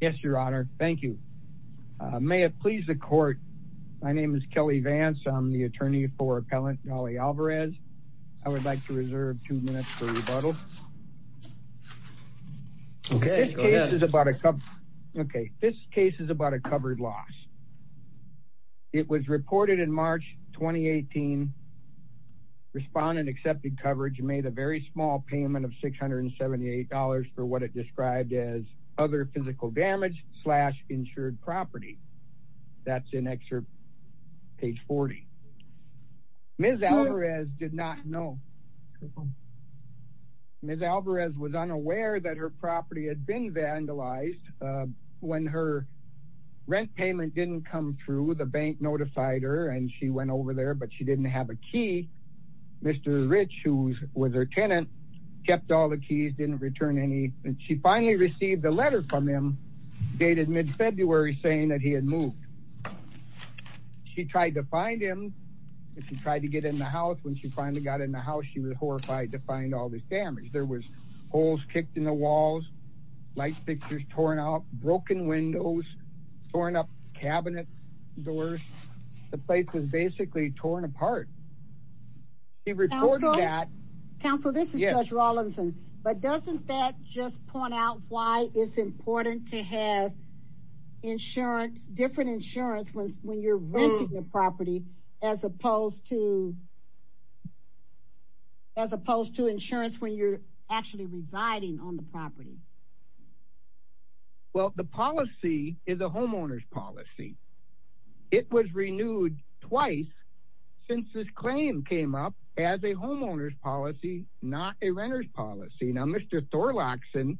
Yes, your honor. Thank you. May it please the court. My name is Kelly Vance. I'm the attorney for appellant Dolly Alvarez. I would like to reserve two minutes for rebuttal. Okay, this case is about a covered loss. It was reported in March 2018. Respondent accepted coverage made a very small payment of $678 for what it described as other physical damage slash insured property. That's an extra page 40. Ms. Alvarez did not know. Ms. Alvarez was unaware that her property had been vandalized. When her rent payment didn't come through the bank notified her and she went over there but she didn't have a key. Mr. Rich who was her tenant, kept all the keys didn't return any and she finally received a letter from him dated mid February saying that he had moved. She tried to find him. She tried to get in the house when she finally got in the house. She was horrified to find all this damage. There was holes kicked in the walls, light fixtures torn out, broken windows, torn up cabinet doors. The place was basically torn apart. He reported that. Counsel, this is Judge Rawlinson but doesn't that just point out why it's important to have insurance, different insurance when you're renting a property as opposed to as opposed to insurance when you're actually residing on the property. Well, the policy is a homeowner's policy. It was homeowner's policy, not a renter's policy. Now, Mr. Thorlakson,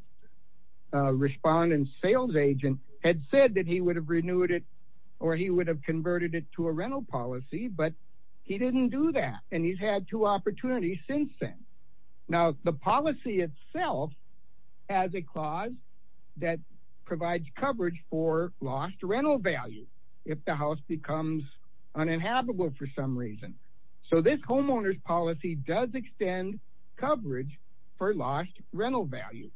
respondent sales agent had said that he would have renewed it or he would have converted it to a rental policy but he didn't do that and he's had two opportunities since then. Now, the policy itself has a clause that provides coverage for lost rental value. If the house becomes uninhabitable for some reason. So, this homeowner's policy does extend coverage for lost rental value.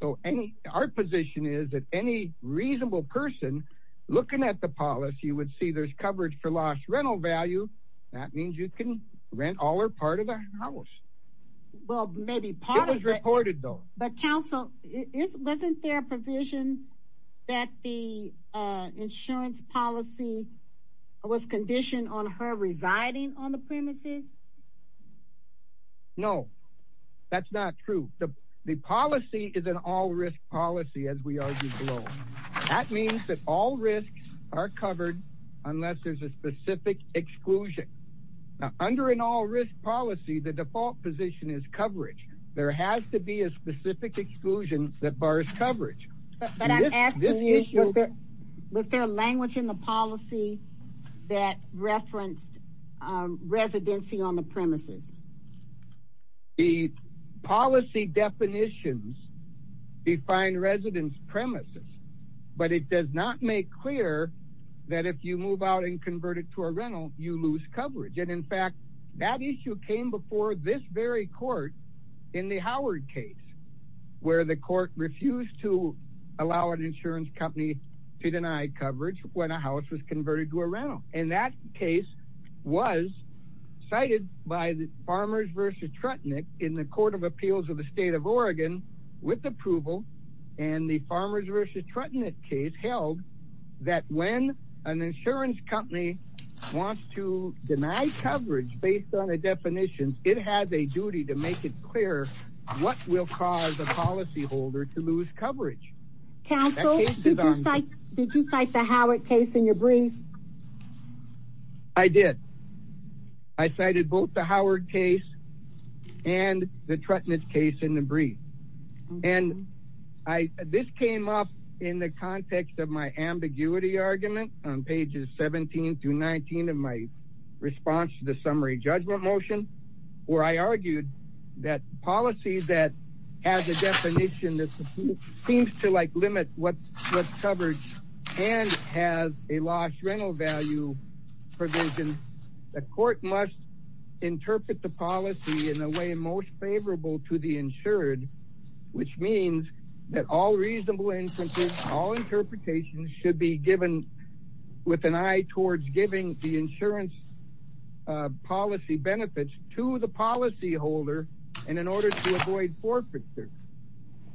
So, any our position is that any reasonable person looking at the policy would see there's coverage for lost rental value. That means you can rent all or part of the house. Well, maybe part of it. It was reported though. But counsel, isn't there a provision that the insurance policy was conditioned on her residing on the premises? No, that's not true. The the policy is an all-risk policy as we argued below. That means that all risks are covered unless there's a specific exclusion. Now, under an all-risk policy, the default position is coverage. There has to be a specific exclusion that bars coverage. But I'm asking you, was there language in the policy that referenced residency on the premises? The policy definitions define residence premises but it does not make clear that if you move out and convert it to a rental, you lose coverage and in fact, that issue came before this very court in the Howard case where the court refused to allow an insurance company to deny coverage when a house was converted to a rental and that case was cited by the Farmers versus Trutnick in the Court of Appeals of the state of Oregon with approval and the Farmers versus Trutnick case held that when an insurance company wants to deny coverage based on the definitions, it has a duty to make it clear what will cause a policy holder to lose coverage. Counsel, did you cite the Howard case in your brief? I did. I cited both the Howard case and the Trutnick case in the brief and I this came up in the context of my ambiguity argument on pages seventeen to nineteen of my response to the that policies that has a definition that seems to like limit what what's covered and has a lost rental value provision. The court must interpret the policy in a way most favorable to the insured, which means that all reasonable instances, all interpretations should be given with an eye towards giving the insurance policy benefits to the policy holder and in order to avoid forfeiture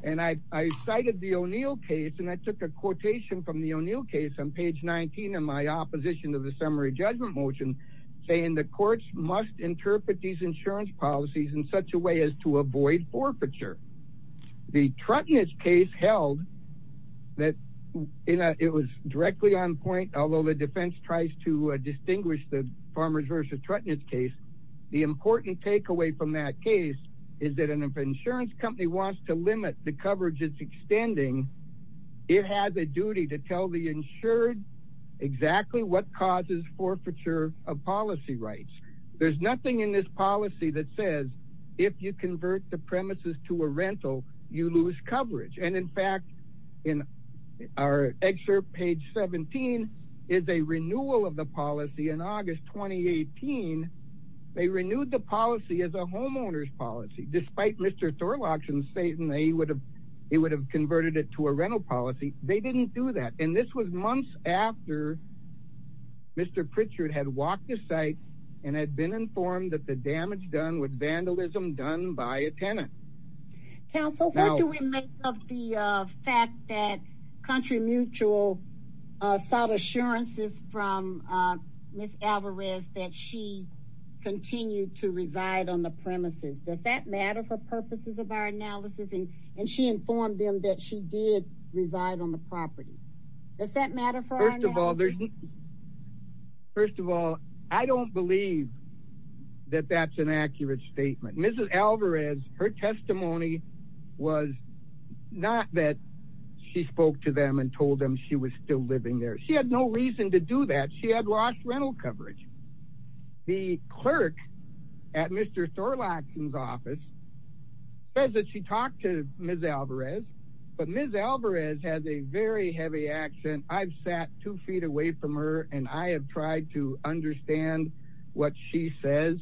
and II cited the O'Neill case and I took a quotation from the O'Neill case on page nineteen of my opposition to the summary judgment motion saying the courts must interpret these insurance policies in such a way as to avoid forfeiture. The Trutnick case held that it was directly on point, although the defense tries to distinguish the Farmers versus Trutnick case, the important takeaway from that case is that an insurance company wants to limit the coverage it's extending. It has a duty to tell the insured exactly what causes forfeiture of policy rights. There's nothing in this policy that says if you convert the premises to a rental, you lose coverage and in fact in our excerpt page seventeen is a renewal of the 18. They renewed the policy as a homeowner's policy, despite mister Thorlock and Satan, they would have they would have converted it to a rental policy. They didn't do that and this was months after mister Pritchard had walked the site and had been informed that the damage done with vandalism done by a tenant council. What do we make of the fact that country mutual sought assurances from miss Alvarez that she continued to reside on the premises. Does that matter for purposes of our analysis and and she informed them that she did reside on the property. Does that matter for our first of all there's. First of all, I don't believe that that's an accurate statement. Mrs. Alvarez her testimony was not that she spoke to them and told them she was still living there. She had no reason to do that. She had lost rental coverage. The clerk at mister Thorlock's office says that she talked to miss Alvarez, but miss Alvarez has a very heavy accent. I've sat two feet away from her and I have tried to understand what she says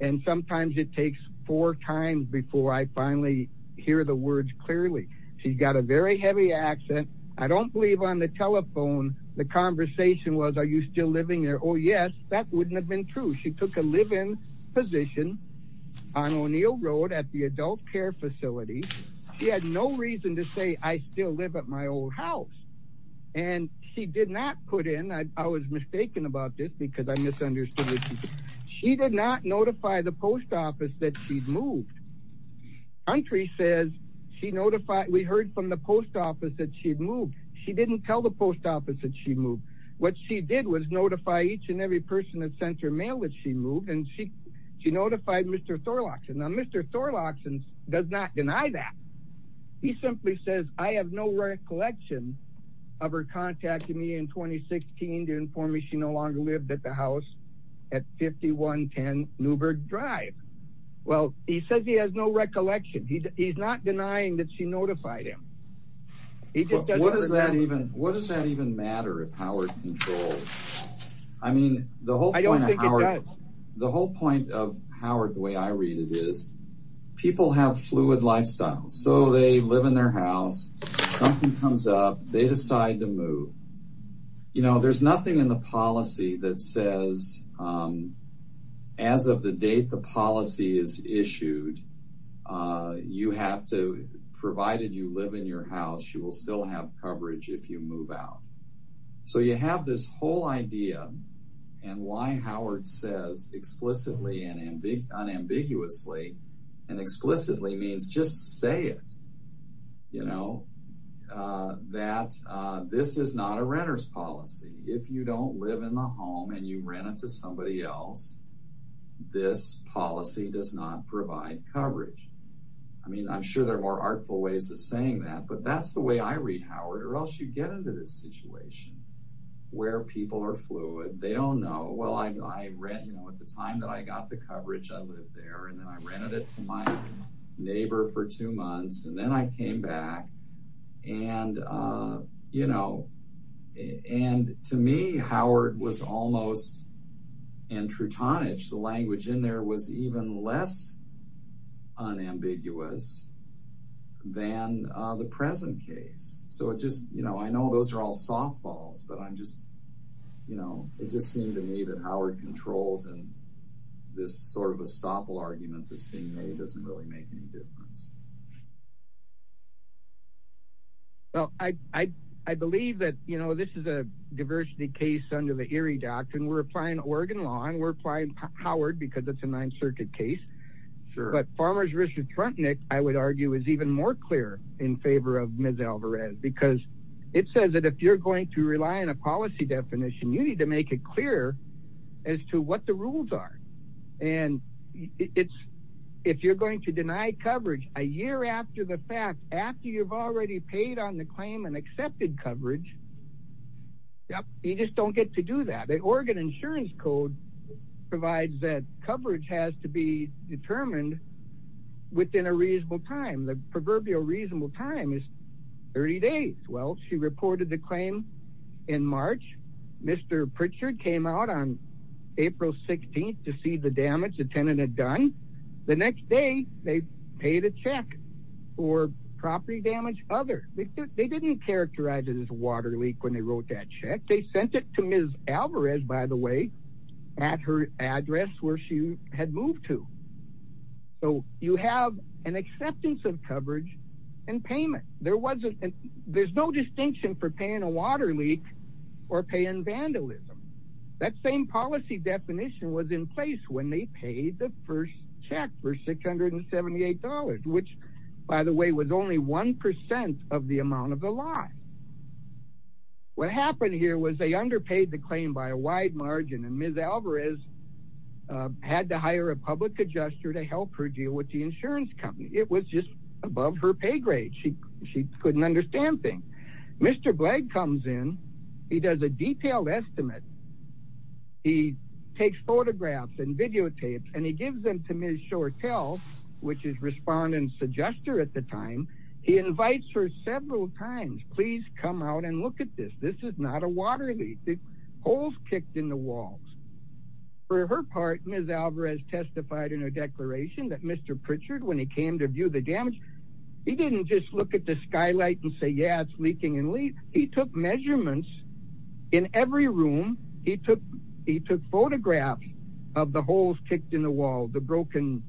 and sometimes it takes four times before I finally Hear the words clearly. She's got a very heavy accent. I don't believe on the telephone. The conversation was are you still living there? Oh yes, that wouldn't have been true. She took a live in position on O'Neill Road at the adult care facility. She had no reason to say I still live at my old house and she did not put in. I was mistaken about this because I misunderstood. She did not notify the post office that she's moved country says she notified we heard from the post office that she'd moved. She didn't tell the post office that she moved what she did was notify each and every person that sent her mail that she moved and she she notified mister Thorlock's and now mister Thorlock's and does not deny that he simply says I have no recollection of her contacting me in 2016 to inform me she no longer lived at the house at 5110 Newberg Drive. Well, he says he has no recollection. He's he's not denying that she notified him. What does that even what does that even matter if Howard controls? I mean the whole point. I don't think it does the whole point of Howard the way I read it is people have fluid lifestyles. so they live in their house something comes up. They decide to move. You know there's nothing in the policy that says. As of the date, the policy is issued. you have to provided you live in your house, you will still have coverage if you move out so you have this whole idea and why Howard says explicitly and ambiguously and explicitly means just say it. You know that this is not a renter's policy. If you don't live in the home and you rent it to somebody else, this policy does not provide coverage. I mean, I'm sure there are more artful ways of saying that, but that's the way I read Howard or else you get into this situation where people are fluid. They don't know well II. You know at the time that I got the coverage I live there and then I rented it to my neighbor for 2 months and then I came back and you know and to me, Howard was almost in true. The language in there was even less unambiguous than the present case, so it just you know I know those are all softballs, but I'm just you know it just seemed to me that Howard controls and this sort of a stop argument that's being made doesn't really make any difference. Well, II believe that you know this is a diversity case under the theory doctrine we're applying Oregon law and we're applying Howard because it's a nine circuit case sure, but farmers Richard Frontenac, I would argue is even more clear in favor of Miss Alvarez because it says that if you're going to rely on a policy definition, you need to make it clear as to What the rules are and it's if you're going to deny coverage a year after the fact after you've already paid on the claim and accepted coverage. Yep, you just don't get to do that. The Oregon insurance code provides that coverage has to be determined within a reasonable time. The proverbial reasonable time is 30 days. Well, she reported the claim in March. Mr. Pritchard came out on April 16th to see the damage the tenant had done the next day. They paid a check for property damage other they didn't characterize it as a water leak when they wrote that check. They sent it to Miss Alvarez by the way at her address where she had moved to so you have an acceptance of coverage and payment. There wasn't there's no distinction for paying a water leak or paying vandalism that same policy definition was in place when they paid the first check for $678, which by the way was only 1% of the amount of the line. What happened here was they underpaid the claim by a wide margin and Miss Alvarez had to hire a public adjuster to help her deal with the insurance company. It was just above her pay grade. She she couldn't understand things. Mr. Blake comes in. He does a detailed estimate. He takes photographs and videotapes and he gives them to Miss Shortell, which is responding to adjuster at the time. He invites her several times. Please come out and look at this. This is not a water leak. The holes kicked in the walls for her part. Miss Alvarez testified in a declaration that Mr. Pritchard when he came to view the damage, he didn't just look at the skylight and say, yeah, it's leaking and he took measurements in every room. He took he took photographs of the holes kicked in the wall, the broken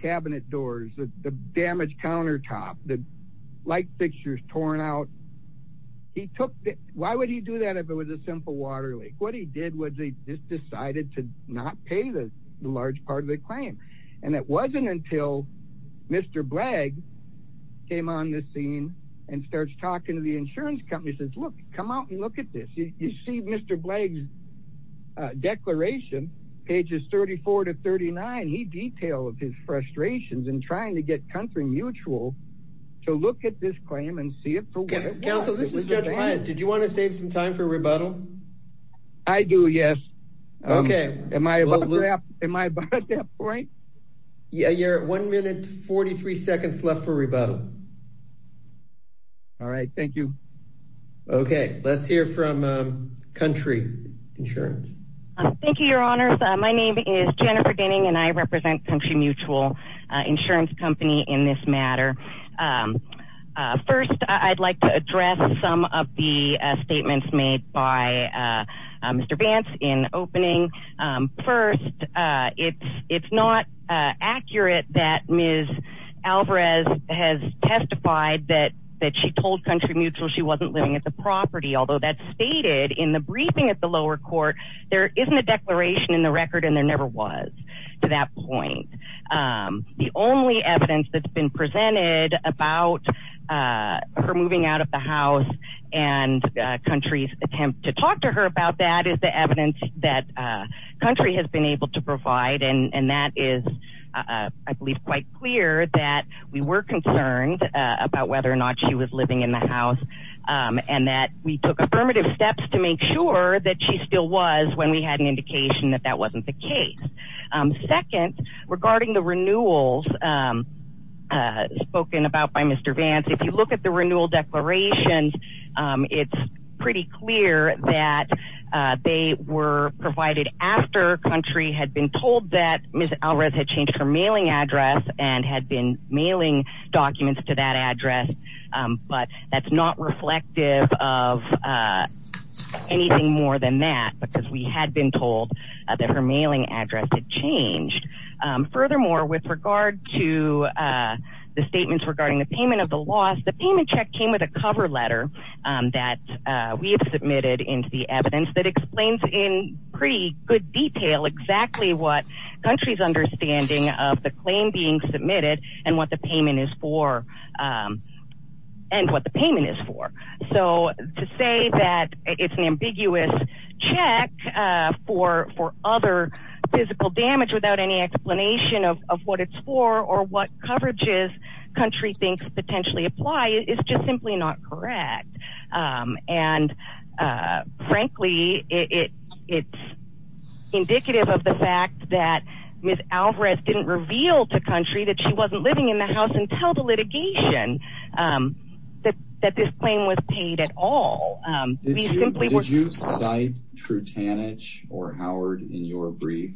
cabinet doors, the damaged countertop, the light fixtures torn out. He took the why would he do that if it was a simple water leak? What he did was he just decided to not pay the large part of the claim and it wasn't until Mr. Blagg came on the scene and starts talking to the insurance company. He says, look, come out and look at this. You see Mr. Blagg's declaration pages 34 to 39. He detailed his frustrations in trying to get country mutual to look at this claim and see it for what it was. Counsel, this is Judge Price. Did you want to save some time for rebuttal? I Yeah, you're at 1 minute 43 seconds left for rebuttal. All right. Thank you. Okay, let's hear from country insurance. Thank you, your honor. My name is Jennifer Denning and I represent country mutual insurance company in this matter. First, I'd like to address some of the statements made by Mr. opening. First, it's not accurate that Ms. Alvarez has testified that she told country mutual she wasn't living at the property. Although that's stated in the briefing at the lower court, there isn't a declaration in the record and there never was to that point. The only evidence that's been presented about her moving out of the house and country's attempt to that country has been able to provide and that is I believe quite clear that we were concerned about whether or not she was living in the house and that we took affirmative steps to make sure that she still was when we had an indication that that wasn't the case. Second, regarding the renewals spoken about by Mr. Vance, if you look at the renewal declarations, it's pretty clear that they were provided after country had been told that Ms. Alvarez had changed her mailing address and had been mailing documents to that address but that's not reflective of anything more than that because we had been told that her mailing address had changed. Furthermore, with regard to the statements regarding the payment of the letter that we have submitted into the evidence that explains in pretty good detail exactly what country's understanding of the claim being submitted and what the payment is for and what the payment is for. So, to say that it's an ambiguous check for for other physical damage without any explanation of of what it's for or what coverage is country thinks potentially apply is just simply not correct and frankly it it's indicative of the fact that Ms. Alvarez didn't reveal to country that she wasn't living in the house until the litigation that this claim was paid at all. Did you cite Trutanich or Howard in your brief?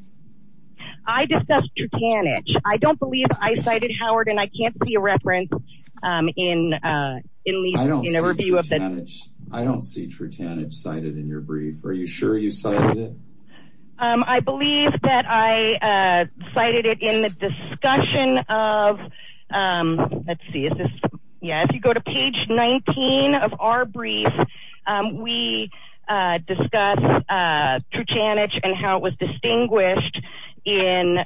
I discussed Trutanich. I don't believe I cited Howard and I can't see a reference in at least I don't see Trutanich cited in your brief. Are you sure you cited it? I believe that I cited it in the discussion of let's see. Is this? Yeah, if you go to page nineteen of our brief, we discuss Trutanich and how it distinguished in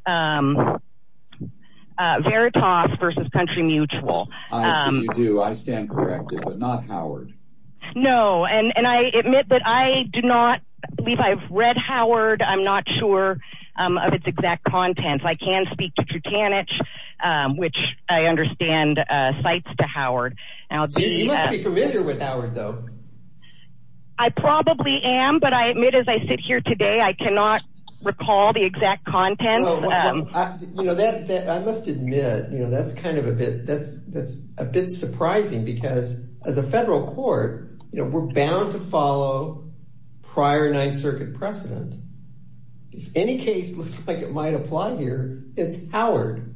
Veritas versus Country Mutual. I do. I stand corrected but not Howard. No and and I admit that I do not believe I've read Howard. I'm not sure of its exact content. I can speak to Trutanich which I understand cites to Howard. You must be familiar with Howard though. I recall the exact content. You know that that I must admit, you know, that's kind of a bit that's that's a bit surprising because as a federal court, you know, we're bound to follow prior Ninth Circuit precedent. If any case looks like it might apply here, it's Howard.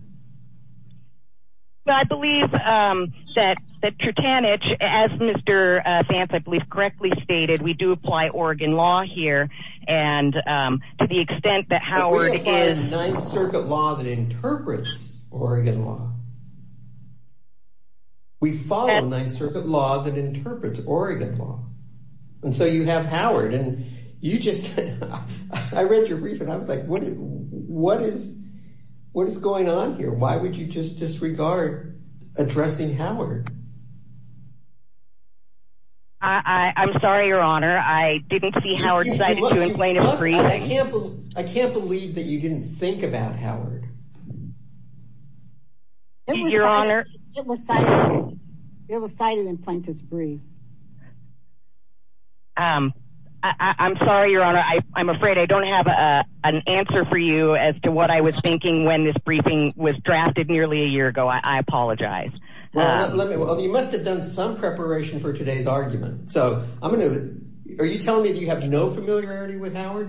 I believe that that Trutanich as mister I believe correctly stated, we do apply Oregon law here and to the extent that Howard again, Ninth Circuit law that interprets Oregon law. We follow Ninth Circuit law that interprets Oregon law and so you have Howard and you just I read your brief and I was like what what is what is going on here? Why would you just disregard addressing Howard? I'm sorry, your honor. I didn't see Howard. I can't I can't believe that you didn't think about Howard. Your honor, it was cited. It was cited in plaintiff's brief. I'm sorry, your honor. I'm afraid I don't have an answer for you as to what I was thinking when this I apologize. Well, you must have done some preparation for today's argument. So, I'm going to are you telling me that you have no familiarity with Howard?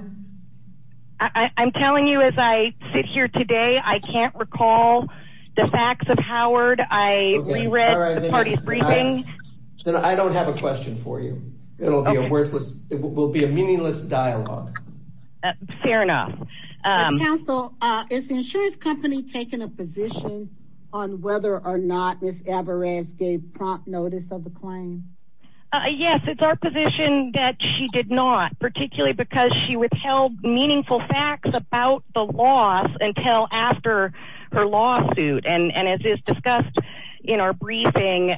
I'm telling you as I sit here today, I can't recall the facts of Howard. I reread the party's briefing. I don't have a question for you. It'll be a worthless. It will be a meaningless dialogue. Fair enough. Counsel, is the insurance company taking a position on whether or not miss gave prompt notice of the claim. Yes, it's our position that she did not particularly because she withheld meaningful facts about the loss until after her lawsuit and and as is discussed in our briefing,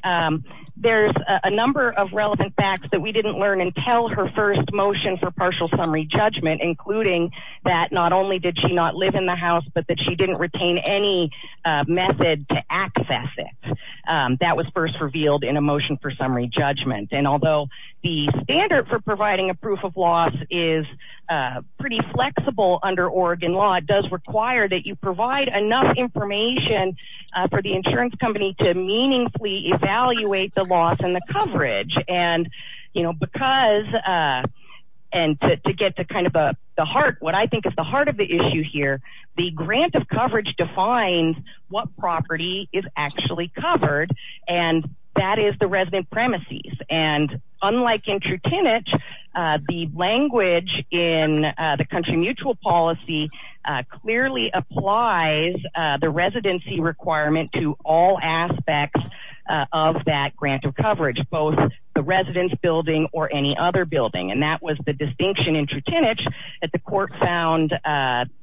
there's a number of relevant facts that we didn't learn until her first motion for partial summary judgment, including that not only did she not live in the house, but that didn't retain any method to access it. That was first revealed in a motion for summary judgment and although the standard for providing a proof of loss is pretty flexible under Oregon law, it does require that you provide enough information for the insurance company to meaningfully evaluate the loss and the coverage and you know because and to get to kind of the heart, what I think is the of the issue here. The grant of coverage defines what property is actually covered and that is the resident premises and unlike in the language in the country mutual policy clearly applies the residency requirement to all aspects of that grant of coverage, both the residence building or any other building and that was the distinction in that the court found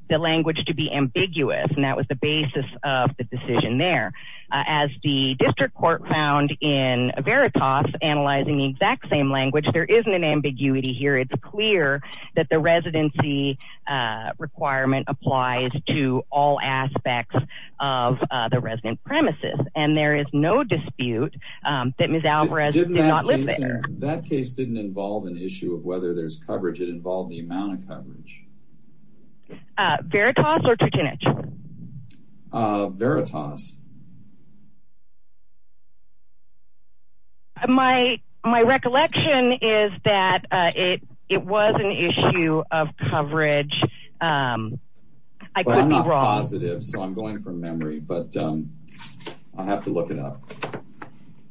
the language to be ambiguous and that was the basis of the decision there as the district court found in Veritas analyzing the exact same language. There isn't an ambiguity here. It's clear that the residency requirement applies to all aspects of the resident premises and there is no dispute that Miss Alvarez did not live there. That case didn't involve an issue of whether there's coverage it involved the amount of coverage. Veritas or Truchinich? Veritas. My recollection is that it was an issue of coverage. I'm not positive so I'm going from memory, but I'll have to look it up,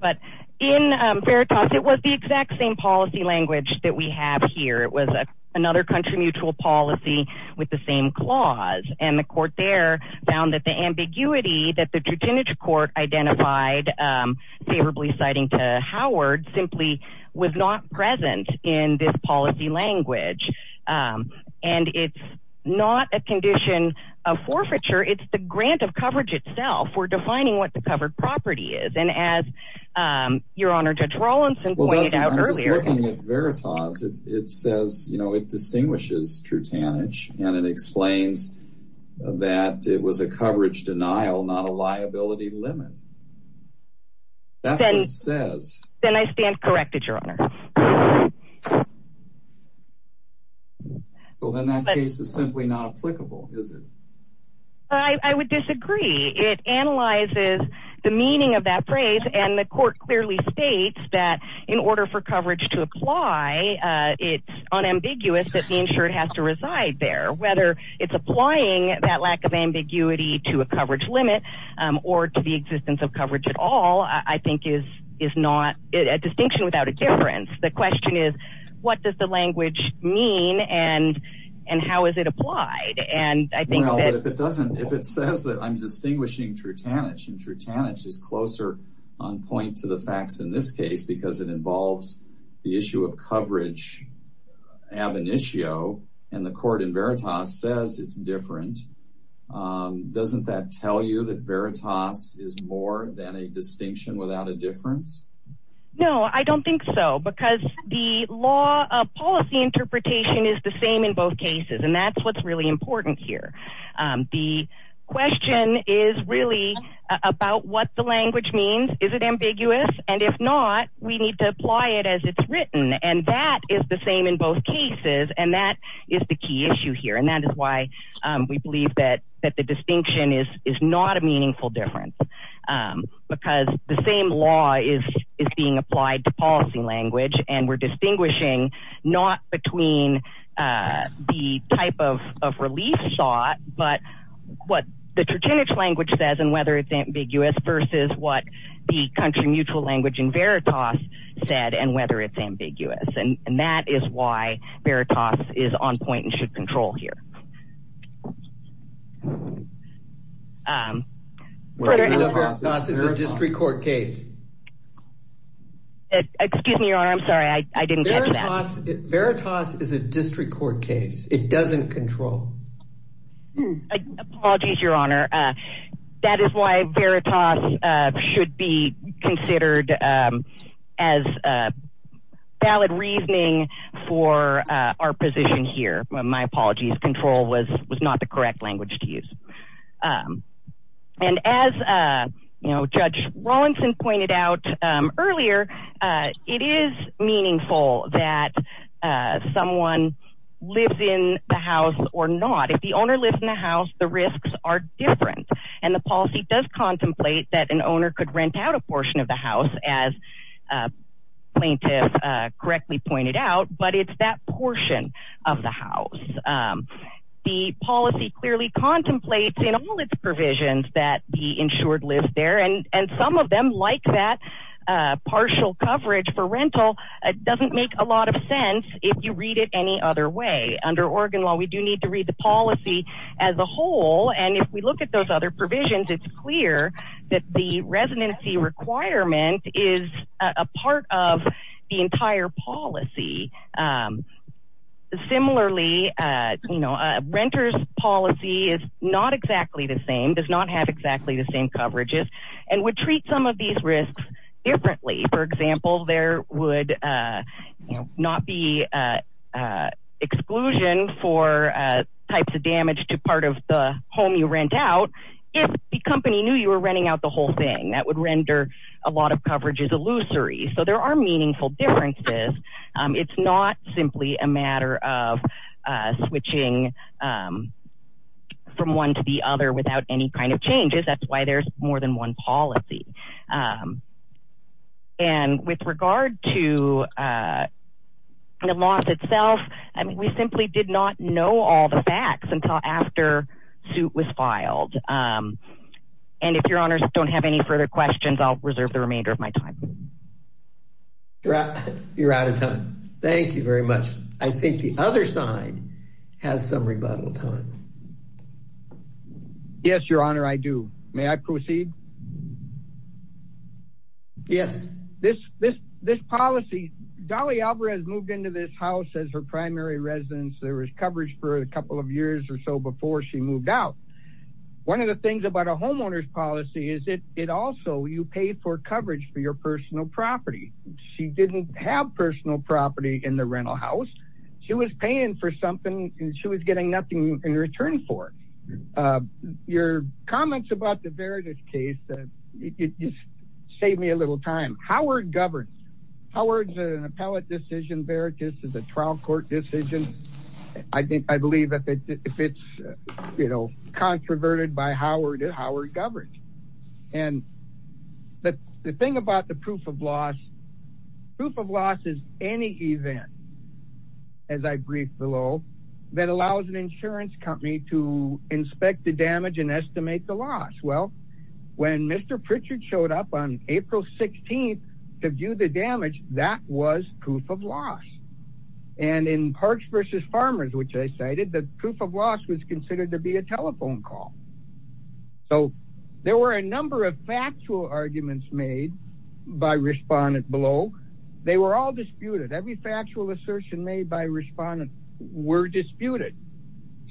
but in Veritas, it was the exact same policy language that we have here. It was another country mutual policy with the same clause and the court there found that the ambiguity that the Truchinich court identified favorably citing to Howard simply was not present in this policy language and it's not a condition of forfeiture. It's the grant of coverage itself. We're defining what the covered property is and as your honor Judge Rawlinson pointed out earlier. I'm just looking at Veritas. It says you know it distinguishes Truchinich and it explains that it was a coverage denial, not a liability limit. That's what it says. Then I stand corrected, your honor. So then that case is simply not applicable, is it? I would disagree. It analyzes the meaning of that phrase and the coverage to apply. It's unambiguous that the insured has to reside there, whether it's applying that lack of ambiguity to a coverage limit or to the existence of coverage at all, I think is not a distinction without a difference. The question is what does the language mean and how is it applied and I think that if it doesn't if it says that I'm distinguishing Truchinich and Truchinich is closer on point to the facts in this case because it involves the issue of coverage ab initio and the court in Veritas says it's different. Doesn't that tell you that Veritas is more than a distinction without a difference? No, I don't think so because the law of policy interpretation is the same in both cases and that's what's really important here. The question is really about what the language means. Is it It's written and that is the same in both cases and that is the key issue here and that is why we believe that that the distinction is is not a meaningful difference because the same law is is being applied to policy language and we're distinguishing not between the type of of relief thought, but what the Truchinich language says and whether it's ambiguous versus what the country mutual language in whether it's ambiguous and and that is why Veritas is on point and should control here. Veritas is a district court case. Excuse me, your honor. I'm sorry II didn't get that. Veritas is a district court case. It doesn't control. Apologies, your honor. That is why Veritas should be considered as a valid reasoning for our position here. My apologies control was was not the correct language to use. And as you know, Judge Rawlinson pointed out earlier, it is meaningful that someone lives in the house or not. If the owner lives in the house, the contemplate that an owner could rent out a portion of the house as plaintiff correctly pointed out, but it's that portion of the house. The policy clearly contemplates in all its provisions that the insured lives there and and some of them like that partial coverage for rental doesn't make a lot of sense. If you read it any other way under Oregon law, we do need to read the policy as a whole and if we look at those other provisions, it's clear that the residency requirement is a part of the entire policy. Similarly, you know renters policy is not exactly the same does not have exactly the same coverages and would treat some of these risks differently. For example, there would you know not be exclusion for types of damage to part of the home you rent out if the company knew you were renting out the whole thing that would render a lot of coverages illusory. So there are meaningful differences. It's not simply a matter of switching from one to the other without any kind of changes. That's why there's more than one policy. And with regard to the law itself, I mean we simply did not know all the facts until after suit was filed and if your honors don't have any further questions, I'll reserve the remainder of my time. You're out of time. Thank you very much. I think the other side has some rebuttal time. Yes, your honor. I do may I proceed. Yes, this this this policy Dolly Alvarez moved into this house as her primary residence. There was coverage for a couple of years or so before she moved out. One of the things about a homeowner's policy is it it also you pay for coverage for your personal property. She didn't have personal property in the rental house. She was paying for something and she was getting nothing in return for your comments about the case that it just saved me a little time. Howard governs Howard's an appellate decision. Veritas is a trial court decision. I think I believe that if it's you know, controverted by Howard Howard governs and the thing about the proof of loss proof of loss is any event as I brief below that allows an insurance company to inspect the damage and estimate the loss. Well, when mister Pritchard showed up on April 16th to do the damage that was proof of loss and in Parks versus Farmers, which I cited the proof of loss was considered to be a telephone call. So there were a number of factual arguments made by respondent below. They were all disputed. Every factual assertion made by respondents were disputed.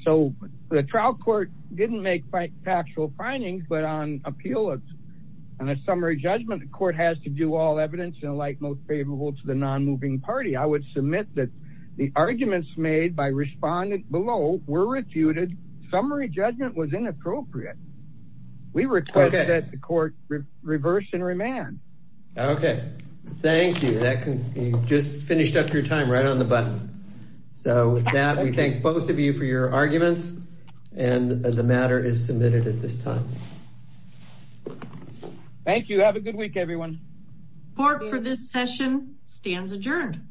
So the trial court didn't make factual findings, but on appeal and a summary judgment, the court has to do all evidence in the light most favorable to the non-moving party. I would submit that the arguments made by respondent below were refuted. Summary judgment was inappropriate. We request that the court reverse and remand. Okay. Thank you. That can you just finished up your time right on the button. So with that, we thank both of you for your arguments and the matter is submitted at this time. Thank you. Have a good week. Everyone for this session stands adjourned.